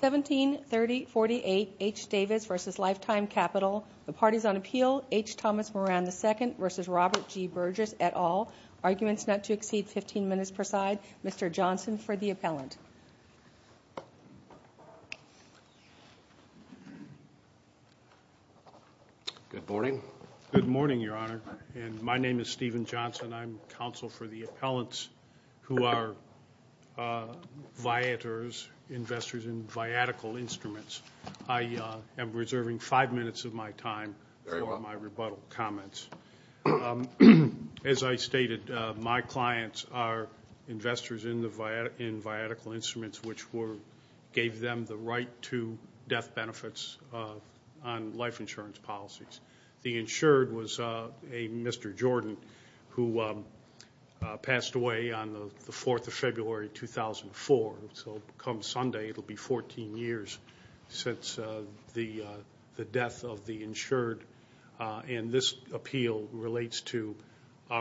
173048 H. Davis v. Lifetime Capital. The parties on appeal, H. Thomas Moran II v. Robert G. Burgess, et al. Arguments not to exceed 15 minutes per side. Mr. Johnson for the appellant. Good morning. Good morning, Your Honor, and my name is Stephen Johnson. I'm counsel for the appellants who are viators, investors in viatical instruments. I am reserving five minutes of my time for my rebuttal comments. As I stated, my clients are investors in viatical instruments, which gave them the right to death benefits on life insurance policies. The insured was a Mr. Jordan who passed away on the 4th of February, 2004. So come Sunday, it will be 14 years since the death of the insured. And this appeal relates to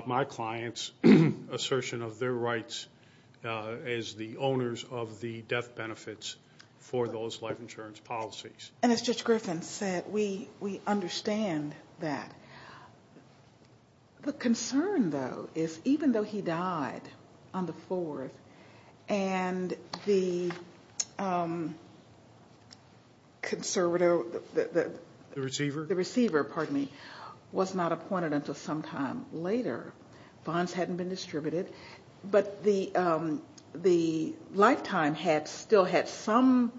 my clients' assertion of their rights as the owners of the death benefits for those life insurance policies. And as Judge Griffin said, we understand that. The concern, though, is even though he died on the 4th and the conservator, the receiver, pardon me, was not appointed until sometime later, bonds hadn't been distributed, but the lifetime had still had some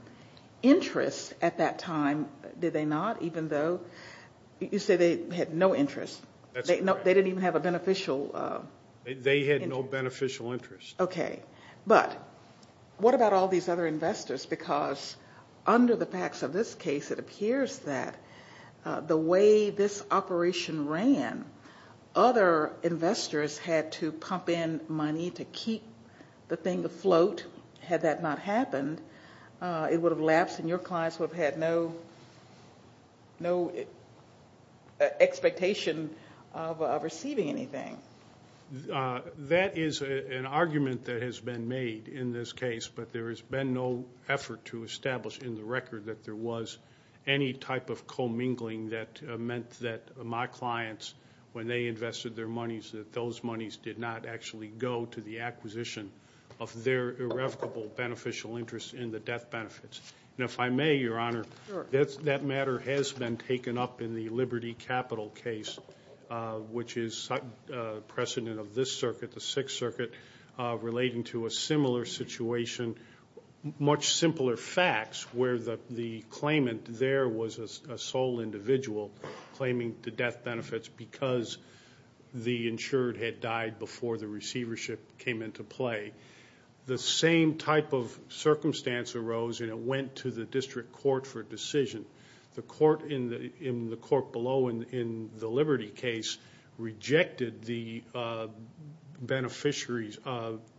interest at that time, did they not? Even though you say they had no interest. That's right. They didn't even have a beneficial. They had no beneficial interest. Okay. But what about all these other investors? Because under the facts of this case, it appears that the way this operation ran, other investors had to pump in money to keep the thing afloat. Had that not happened, it would have lapsed and your clients would have had no expectation of receiving anything. That is an argument that has been made in this case, but there has been no effort to establish in the record that there was any type of commingling that meant that my clients, when they invested their monies, that those monies did not actually go to the acquisition of their irrevocable beneficial interest in the death benefits. And if I may, Your Honor, that matter has been taken up in the Liberty Capital case, which is precedent of this circuit, the Sixth Circuit, relating to a similar situation, much simpler facts, where the claimant there was a sole individual claiming the death benefits because the insured had died before the receivership came into play. The same type of circumstance arose and it went to the district court for a decision. The court below in the Liberty case rejected the beneficiary's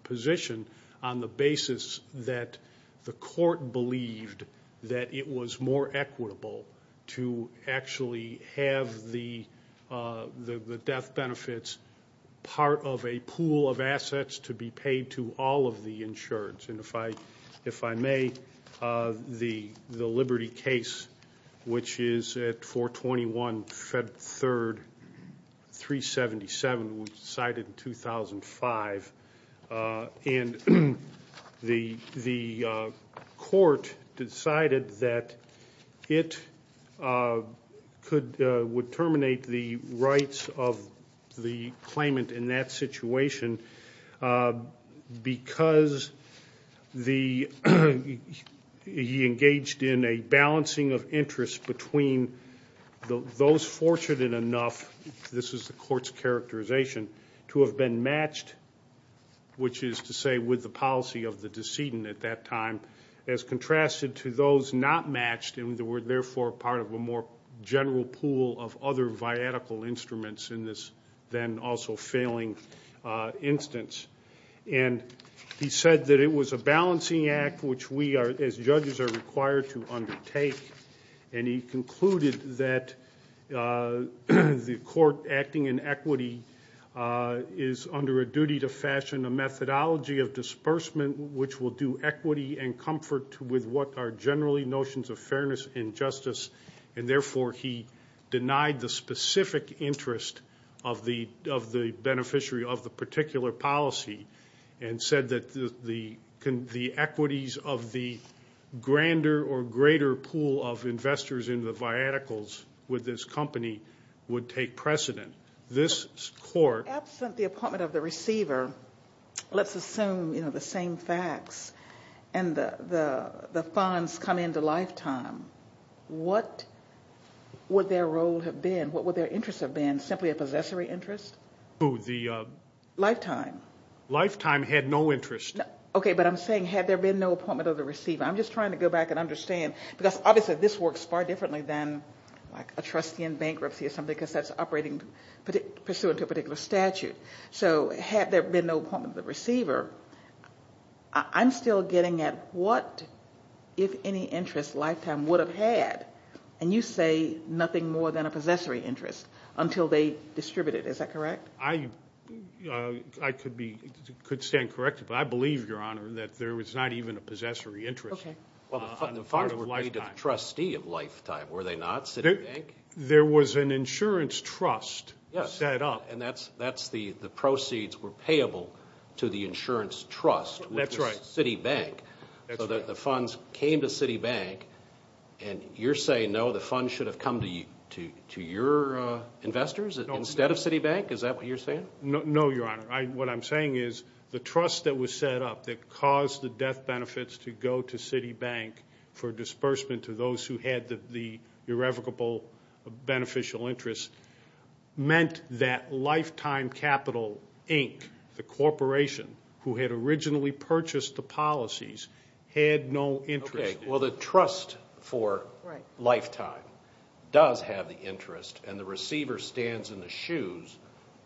position on the basis that the court believed that it was more equitable to actually have the death benefits part of a pool of assets to be paid to all of the insureds. And if I may, the Liberty case, which is at 421 Fed Third 377, which was decided in 2005, and the court decided that it would terminate the rights of the claimant in that situation because he engaged in a balancing of interests between those fortunate enough, this is the court's characterization, to have been matched, which is to say with the policy of the decedent at that time, as contrasted to those not matched and were therefore part of a more general pool of other viatical instruments in this then also failing instance. And he said that it was a balancing act which we as judges are required to undertake, and he concluded that the court acting in equity is under a duty to fashion a methodology of disbursement which will do equity and comfort with what are generally notions of fairness and justice, and therefore he denied the specific interest of the beneficiary of the particular policy and said that the equities of the grander or greater pool of investors in the viaticals with this company would take precedent. This court... What would their role have been, what would their interest have been, simply a possessory interest? Lifetime. Lifetime had no interest. Okay, but I'm saying had there been no appointment of the receiver. I'm just trying to go back and understand because obviously this works far differently than a trustee in bankruptcy or something because that's operating pursuant to a particular statute. So had there been no appointment of the receiver, I'm still getting at what if any interest Lifetime would have had, and you say nothing more than a possessory interest until they distributed, is that correct? I could stand corrected, but I believe, Your Honor, that there was not even a possessory interest on the part of Lifetime. Well, the funds would be to the trustee of Lifetime, were they not? There was an insurance trust set up. And that's the proceeds were payable to the insurance trust with the Citibank. That's right. So the funds came to Citibank, and you're saying, no, the funds should have come to your investors instead of Citibank? Is that what you're saying? No, Your Honor. What I'm saying is the trust that was set up that caused the death benefits to go to Citibank for disbursement to those who had the irrevocable beneficial interest meant that Lifetime Capital, Inc., the corporation, who had originally purchased the policies, had no interest. Okay. Well, the trust for Lifetime does have the interest, and the receiver stands in the shoes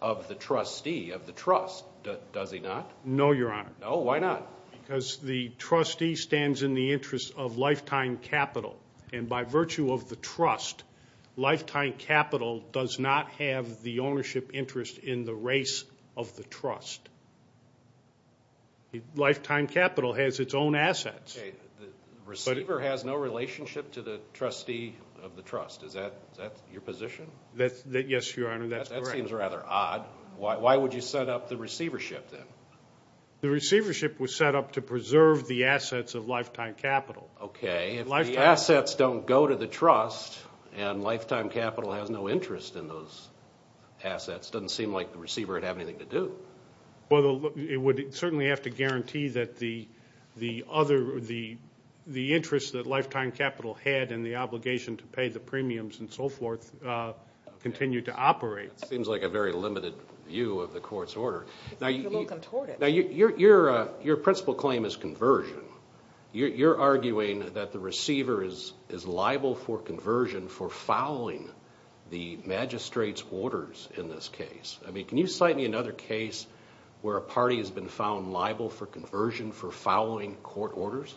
of the trustee of the trust, does he not? No, Your Honor. No? Why not? Because the trustee stands in the interest of Lifetime Capital, and by virtue of the trust, Lifetime Capital does not have the ownership interest in the race of the trust. Lifetime Capital has its own assets. Okay. The receiver has no relationship to the trustee of the trust. Is that your position? Yes, Your Honor, that's correct. That seems rather odd. Why would you set up the receivership then? The receivership was set up to preserve the assets of Lifetime Capital. Okay. If the assets don't go to the trust and Lifetime Capital has no interest in those assets, it doesn't seem like the receiver would have anything to do. Well, it would certainly have to guarantee that the interest that Lifetime Capital had and the obligation to pay the premiums and so forth continued to operate. It seems like a very limited view of the court's order. You're looking toward it. Now, your principal claim is conversion. You're arguing that the receiver is liable for conversion for following the magistrate's orders in this case. I mean, can you cite me another case where a party has been found liable for conversion for following court orders?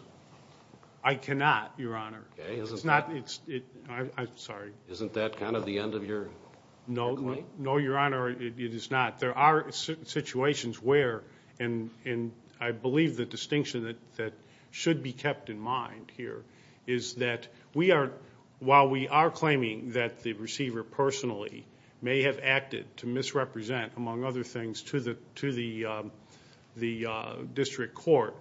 I cannot, Your Honor. Okay. I'm sorry. Isn't that kind of the end of your claim? No, Your Honor, it is not. There are situations where, and I believe the distinction that should be kept in mind here, is that while we are claiming that the receiver personally may have acted to misrepresent, among other things, to the district court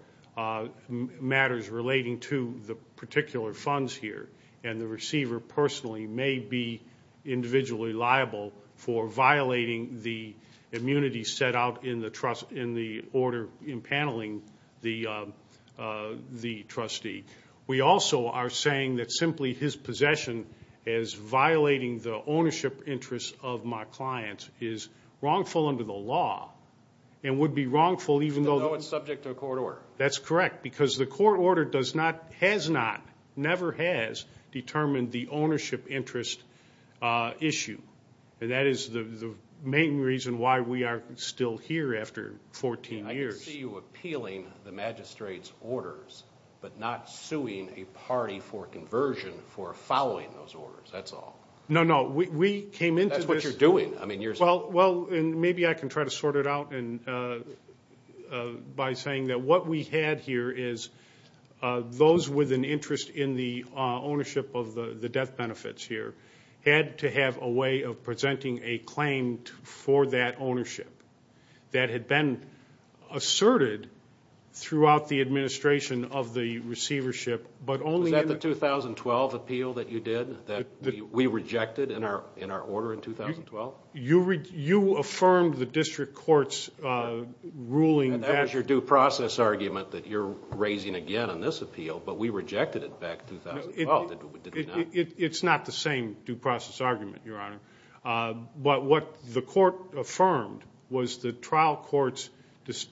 matters relating to the particular funds here, and the receiver personally may be individually liable for violating the immunity set out in the order impaneling the trustee, we also are saying that simply his possession as violating the ownership interests of my client is wrongful under the law and would be wrongful even though it's subject to a court order. That's correct, because the court order does not, has not, never has, determined the ownership interest issue, and that is the main reason why we are still here after 14 years. I can see you appealing the magistrate's orders, but not suing a party for conversion for following those orders. That's all. No, no. We came into this. That's what you're doing. Maybe I can try to sort it out by saying that what we had here is those with an interest in the ownership of the death benefits here had to have a way of presenting a claim for that ownership that had been asserted throughout the administration of the receivership. Was that the 2012 appeal that you did that we rejected in our order in 2012? You affirmed the district court's ruling. That was your due process argument that you're raising again on this appeal, but we rejected it back in 2012, did we not? It's not the same due process argument, Your Honor. But what the court affirmed was the trial court's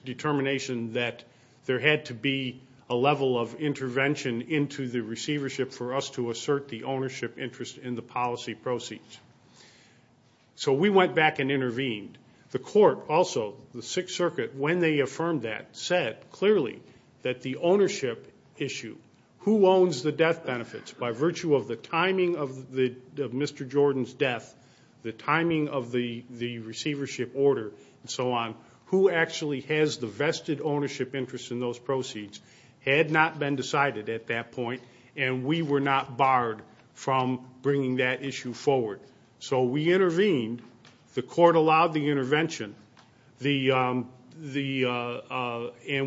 determination that there had to be a level of intervention into the receivership for us to assert the ownership interest in the policy proceeds. So we went back and intervened. The court also, the Sixth Circuit, when they affirmed that, said clearly that the ownership issue, who owns the death benefits by virtue of the timing of Mr. Jordan's death, the timing of the receivership order, and so on, who actually has the vested ownership interest in those proceeds had not been decided at that point, and we were not barred from bringing that issue forward. So we intervened. The court allowed the intervention, and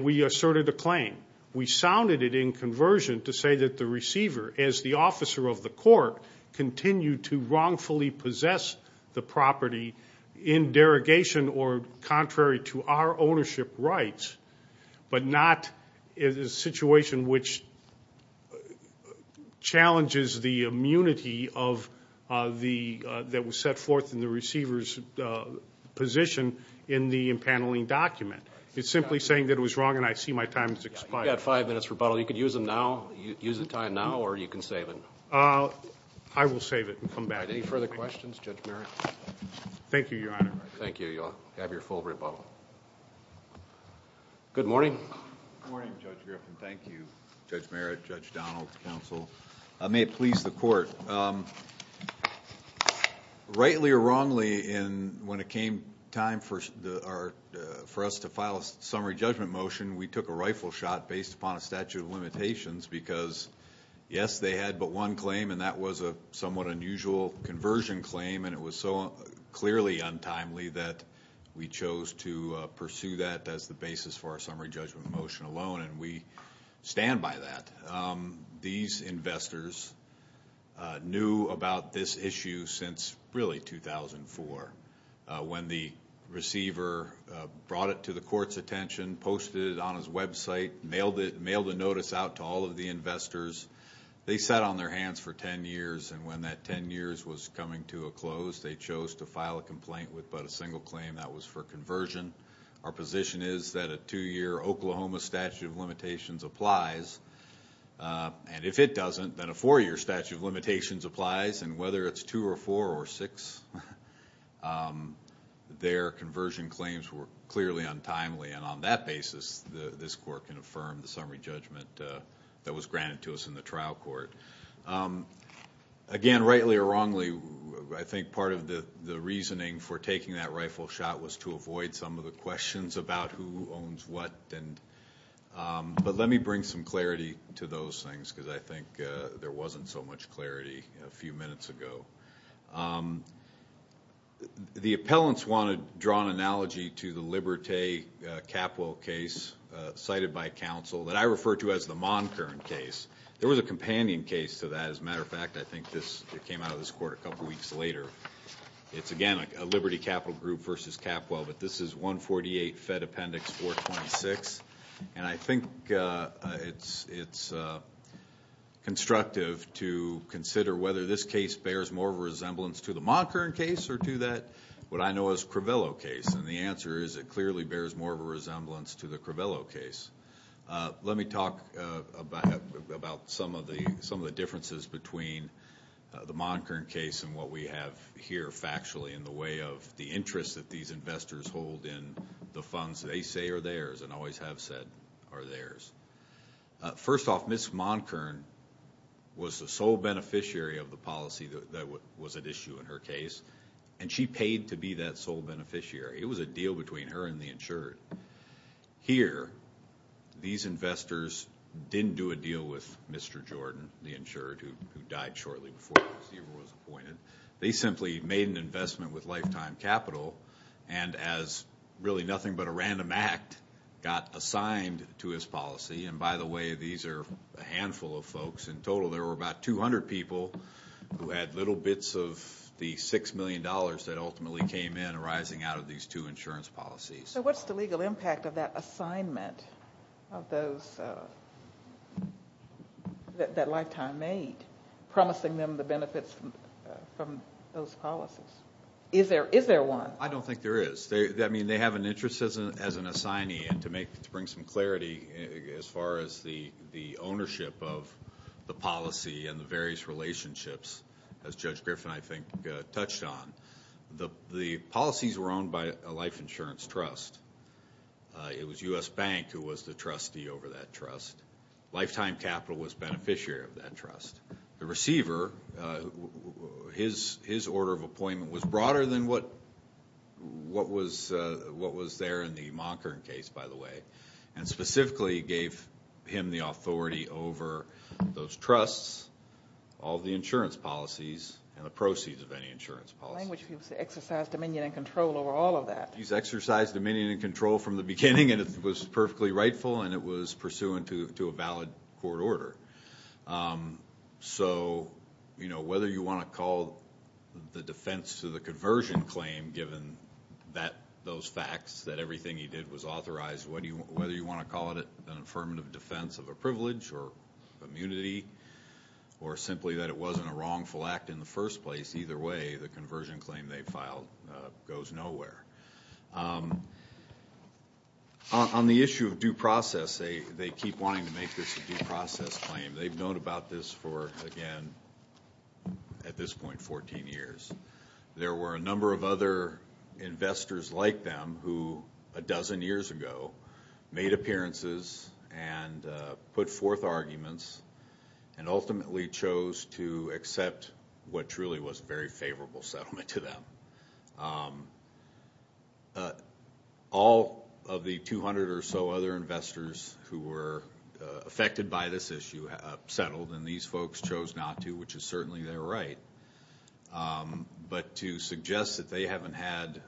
we asserted the claim. We sounded it in conversion to say that the receiver, as the officer of the court, continued to wrongfully possess the property in derogation or contrary to our ownership rights, but not in a situation which challenges the immunity that was set forth in the receiver's position in the impaneling document. It's simply saying that it was wrong, and I see my time has expired. You've got five minutes for rebuttal. You can use them now. Use the time now, or you can save it. I will save it and come back. Any further questions, Judge Merritt? Thank you, Your Honor. Thank you. You all have your full rebuttal. Good morning. Good morning, Judge Griffin. Thank you, Judge Merritt, Judge Donald, counsel. May it please the court. Rightly or wrongly, when it came time for us to file a summary judgment motion, we took a rifle shot based upon a statute of limitations because, yes, they had but one claim, and that was a somewhat unusual conversion claim, and it was so clearly untimely that we chose to pursue that as the basis for our summary judgment motion alone, and we stand by that. These investors knew about this issue since, really, 2004, when the receiver brought it to the court's attention, posted it on his website, mailed a notice out to all of the investors. They sat on their hands for ten years, and when that ten years was coming to a close, they chose to file a complaint with but a single claim. That was for conversion. Our position is that a two-year Oklahoma statute of limitations applies, and if it doesn't, then a four-year statute of limitations applies, and whether it's two or four or six, their conversion claims were clearly untimely, and on that basis this court can affirm the summary judgment that was granted to us in the trial court. Again, rightly or wrongly, I think part of the reasoning for taking that rifle shot was to avoid some of the questions about who owns what, but let me bring some clarity to those things because I think there wasn't so much clarity a few minutes ago. The appellants want to draw an analogy to the Liberté Capital case cited by counsel that I refer to as the Monkern case. There was a companion case to that. As a matter of fact, I think this came out of this court a couple weeks later. It's, again, a Liberté Capital group versus Capwell, but this is 148 Fed Appendix 426, and I think it's constructive to consider whether this case bears more of a resemblance to the Monkern case or to that, what I know is Cravello case, and the answer is it clearly bears more of a resemblance to the Cravello case. Let me talk about some of the differences between the Monkern case and what we have here factually in the way of the interest that these investors hold in the funds they say are theirs and always have said are theirs. First off, Ms. Monkern was the sole beneficiary of the policy that was at issue in her case, and she paid to be that sole beneficiary. It was a deal between her and the insurer. Here, these investors didn't do a deal with Mr. Jordan, the insurer, who died shortly before Steve was appointed. They simply made an investment with lifetime capital, and as really nothing but a random act, got assigned to his policy. And by the way, these are a handful of folks. In total, there were about 200 people who had little bits of the $6 million that ultimately came in arising out of these two insurance policies. So what's the legal impact of that assignment that Lifetime made, promising them the benefits from those policies? Is there one? I don't think there is. I mean, they have an interest as an assignee, and to bring some clarity, as far as the ownership of the policy and the various relationships, as Judge Griffin, I think, touched on, the policies were owned by a life insurance trust. It was U.S. Bank who was the trustee over that trust. Lifetime Capital was beneficiary of that trust. The receiver, his order of appointment was broader than what was there in the Monckhorn case, by the way, and specifically gave him the authority over those trusts, all the insurance policies, and the proceeds of any insurance policy. In other words, he exercised dominion and control over all of that. He's exercised dominion and control from the beginning, and it was perfectly rightful, and it was pursuant to a valid court order. So, you know, whether you want to call the defense to the conversion claim, given those facts that everything he did was authorized, whether you want to call it an affirmative defense of a privilege or immunity, or simply that it wasn't a wrongful act in the first place, either way, the conversion claim they filed goes nowhere. On the issue of due process, they keep wanting to make this a due process claim. They've known about this for, again, at this point, 14 years. There were a number of other investors like them who, a dozen years ago, made appearances and put forth arguments and ultimately chose to accept what truly was a very favorable settlement to them. All of the 200 or so other investors who were affected by this issue settled, and these folks chose not to, which is certainly their right. But to suggest that they haven't had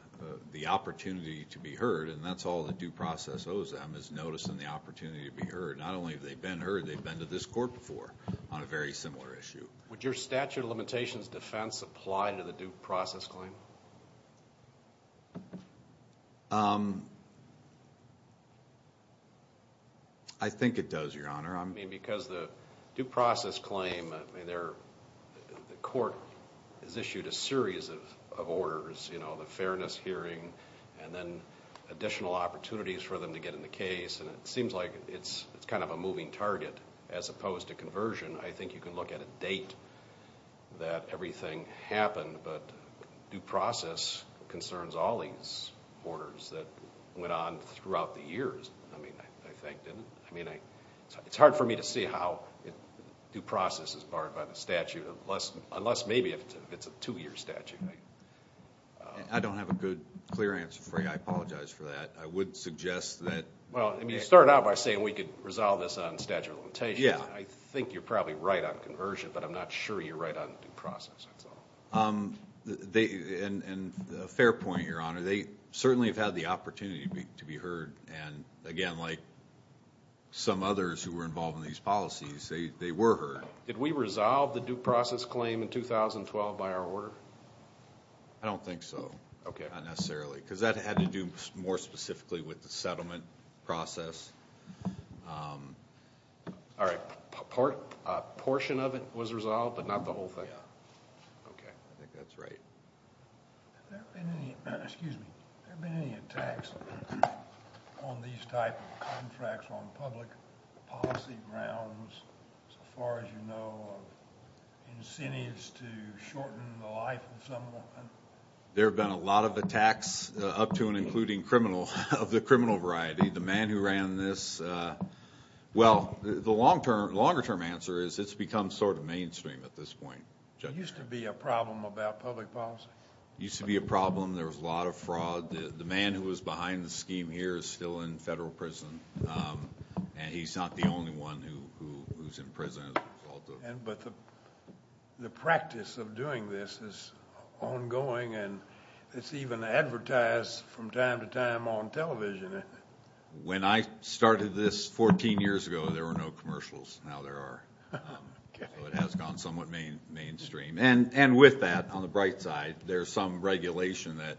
the opportunity to be heard, and that's all the due process owes them, is noticing the opportunity to be heard. Not only have they been heard, they've been to this court before on a very similar issue. Would your statute of limitations defense apply to the due process claim? I think it does, Your Honor. Because the due process claim, the court has issued a series of orders, the fairness hearing, and then additional opportunities for them to get in the case, and it seems like it's kind of a moving target as opposed to conversion. I think you can look at a date that everything happened, but due process concerns all these orders that went on throughout the years, I mean, I think, didn't it? I mean, it's hard for me to see how due process is barred by the statute unless maybe it's a two-year statute. I don't have a good, clear answer for you. I apologize for that. I would suggest that – Well, I mean, you started out by saying we could resolve this on statute of limitations. Yeah. I think you're probably right on conversion, but I'm not sure you're right on due process, that's all. And a fair point, Your Honor, they certainly have had the opportunity to be heard, and again, like some others who were involved in these policies, they were heard. Did we resolve the due process claim in 2012 by our order? I don't think so. Okay. Not necessarily, because that had to do more specifically with the settlement process. All right. A portion of it was resolved, but not the whole thing. Yeah. Okay. I think that's right. Excuse me. Have there been any attacks on these type of contracts on public policy grounds, so far as you know, incentives to shorten the life of someone? There have been a lot of attacks, up to and including criminal, of the criminal variety. The man who ran this – well, the longer-term answer is it's become sort of mainstream at this point. There used to be a problem about public policy. There used to be a problem. There was a lot of fraud. The man who was behind the scheme here is still in federal prison, and he's not the only one who's in prison as a result of it. But the practice of doing this is ongoing, and it's even advertised from time to time on television. When I started this 14 years ago, there were no commercials. Now there are. So it has gone somewhat mainstream. And with that, on the bright side, there's some regulation that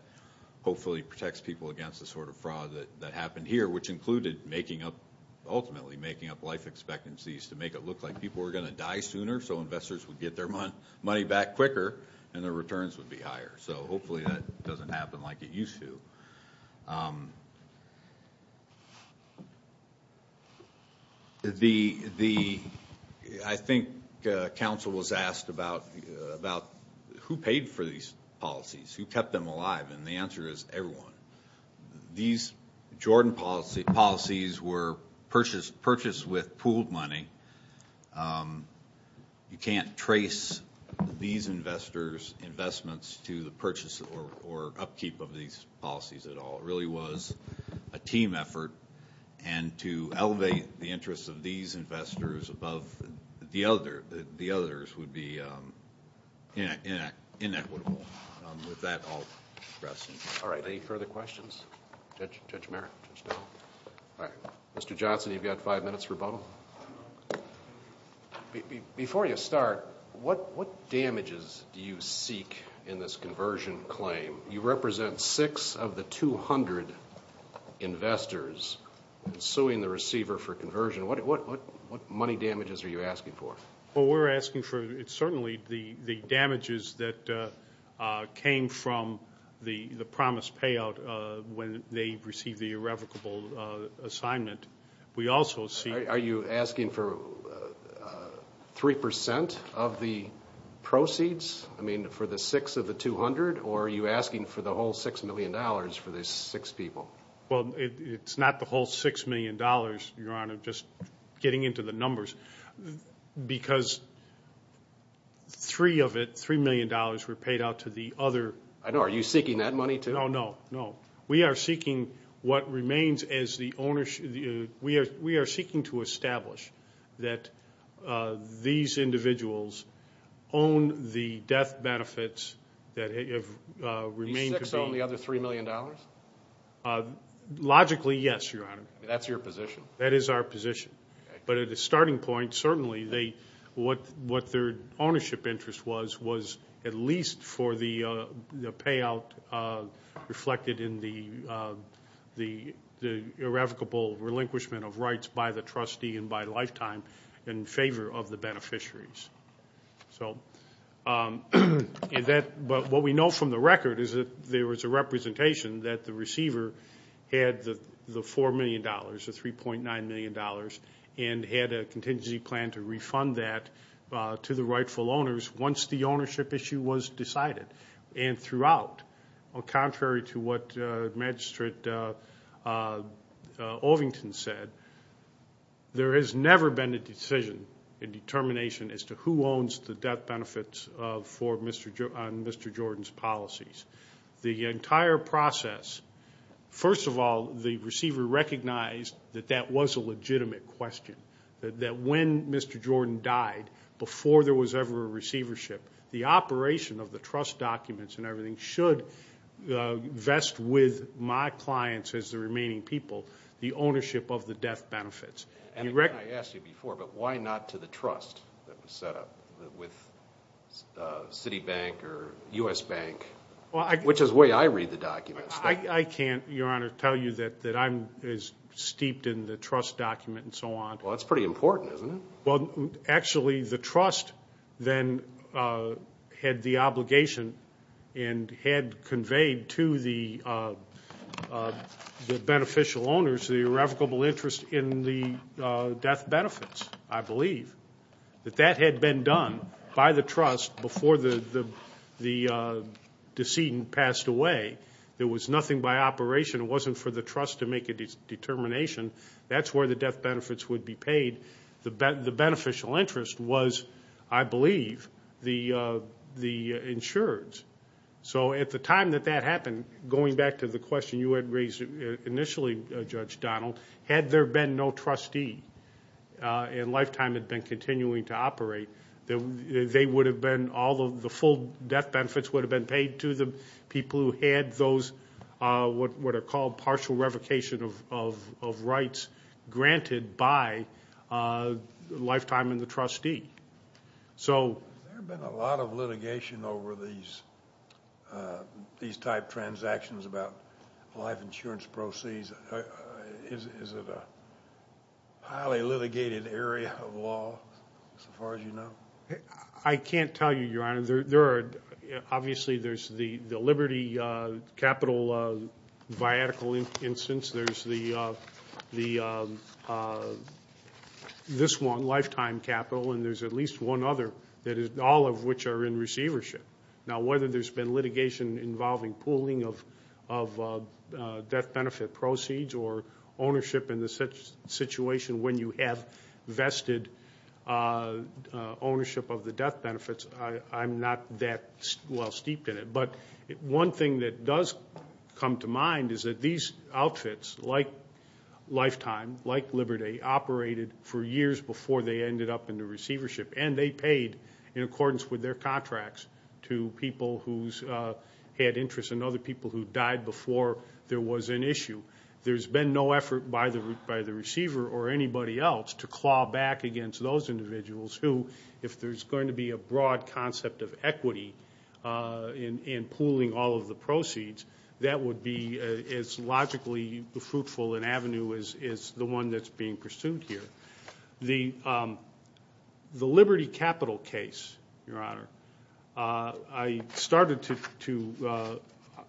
hopefully protects people against the sort of fraud that happened here, which included making up – ultimately making up life expectancies to make it look like people were going to die sooner so investors would get their money back quicker and their returns would be higher. So hopefully that doesn't happen like it used to. The – I think counsel was asked about who paid for these policies, who kept them alive, and the answer is everyone. These Jordan policies were purchased with pooled money. You can't trace these investors' investments to the purchase or upkeep of these policies at all. It really was a team effort. And to elevate the interests of these investors above the others would be inequitable. With that, I'll rest. All right. Any further questions? Judge Merrick. All right. Mr. Johnson, you've got five minutes for rebuttal. Before you start, what damages do you seek in this conversion claim? You represent six of the 200 investors suing the receiver for conversion. What money damages are you asking for? Well, we're asking for certainly the damages that came from the promised payout when they received the irrevocable assignment. Are you asking for 3% of the proceeds, I mean for the six of the 200, or are you asking for the whole $6 million for the six people? Well, it's not the whole $6 million, Your Honor, just getting into the numbers. Because three of it, $3 million, were paid out to the other. I know. Are you seeking that money too? No, no, no. We are seeking what remains as the ownership. We are seeking to establish that these individuals own the death benefits that have remained to be. These six own the other $3 million? Logically, yes, Your Honor. That's your position? That is our position. But at a starting point, certainly what their ownership interest was, was at least for the payout reflected in the irrevocable relinquishment of rights by the trustee and by lifetime in favor of the beneficiaries. But what we know from the record is that there was a representation that the receiver had the $4 million, or $3.9 million, and had a contingency plan to refund that to the rightful owners once the ownership issue was decided. And throughout, contrary to what Magistrate Ovington said, there has never been a decision, a determination, as to who owns the death benefits on Mr. Jordan's policies. The entire process, first of all, the receiver recognized that that was a legitimate question, that when Mr. Jordan died, before there was ever a receivership, the operation of the trust documents and everything should vest with my clients as the remaining people the ownership of the death benefits. And I asked you before, but why not to the trust that was set up with Citibank or U.S. Bank? Which is the way I read the documents. I can't, Your Honor, tell you that I'm as steeped in the trust document and so on. Well, that's pretty important, isn't it? Well, actually, the trust then had the obligation and had conveyed to the beneficial owners the irrevocable interest in the death benefits, I believe. That that had been done by the trust before the decedent passed away. There was nothing by operation. It wasn't for the trust to make a determination. That's where the death benefits would be paid. The beneficial interest was, I believe, the insurers. So at the time that that happened, going back to the question you had raised initially, Judge Donald, had there been no trustee and Lifetime had been continuing to operate, all of the full death benefits would have been paid to the people who had those what are called partial revocation of rights granted by Lifetime and the trustee. Has there been a lot of litigation over these type transactions about life insurance proceeds? Is it a highly litigated area of law, as far as you know? I can't tell you, Your Honor. Obviously, there's the Liberty capital viatical instance. There's this one, Lifetime Capital, and there's at least one other, all of which are in receivership. Now, whether there's been litigation involving pooling of death benefit proceeds or ownership in the situation when you have vested ownership of the death benefits, I'm not that well steeped in it. But one thing that does come to mind is that these outfits, like Lifetime, like Liberty, they operated for years before they ended up in the receivership, and they paid in accordance with their contracts to people who had interest and other people who died before there was an issue. There's been no effort by the receiver or anybody else to claw back against those individuals who, if there's going to be a broad concept of equity in pooling all of the proceeds, that would be as logically fruitful an avenue as the one that's being pursued here. The Liberty capital case, Your Honor, I started to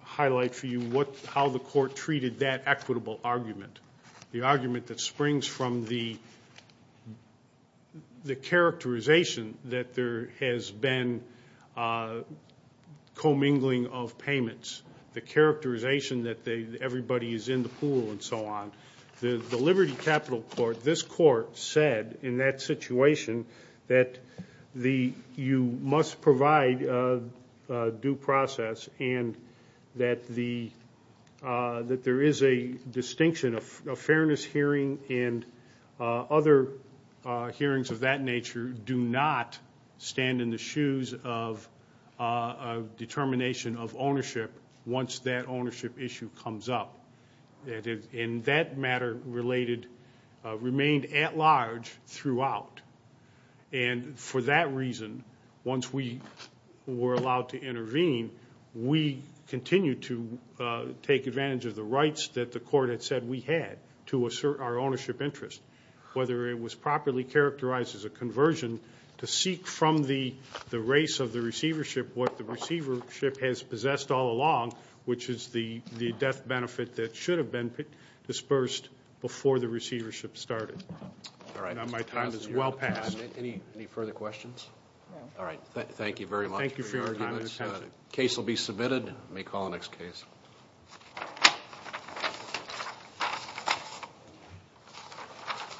highlight for you how the court treated that equitable argument, the argument that springs from the characterization that there has been commingling of payments, the characterization that everybody is in the pool and so on. The Liberty capital court, this court said in that situation that you must provide due process and that there is a distinction of fairness hearing and other hearings of that nature do not stand in the shoes of determination of ownership once that ownership issue comes up. And that matter remained at large throughout. And for that reason, once we were allowed to intervene, we continued to take advantage of the rights that the court had said we had to assert our ownership interest. Whether it was properly characterized as a conversion to seek from the race of the receivership what the receivership has possessed all along, which is the death benefit that should have been dispersed before the receivership started. All right. Now, my time is well past. Any further questions? All right. Thank you very much for your arguments. Thank you for your time and attention. Case will be submitted. May call the next case.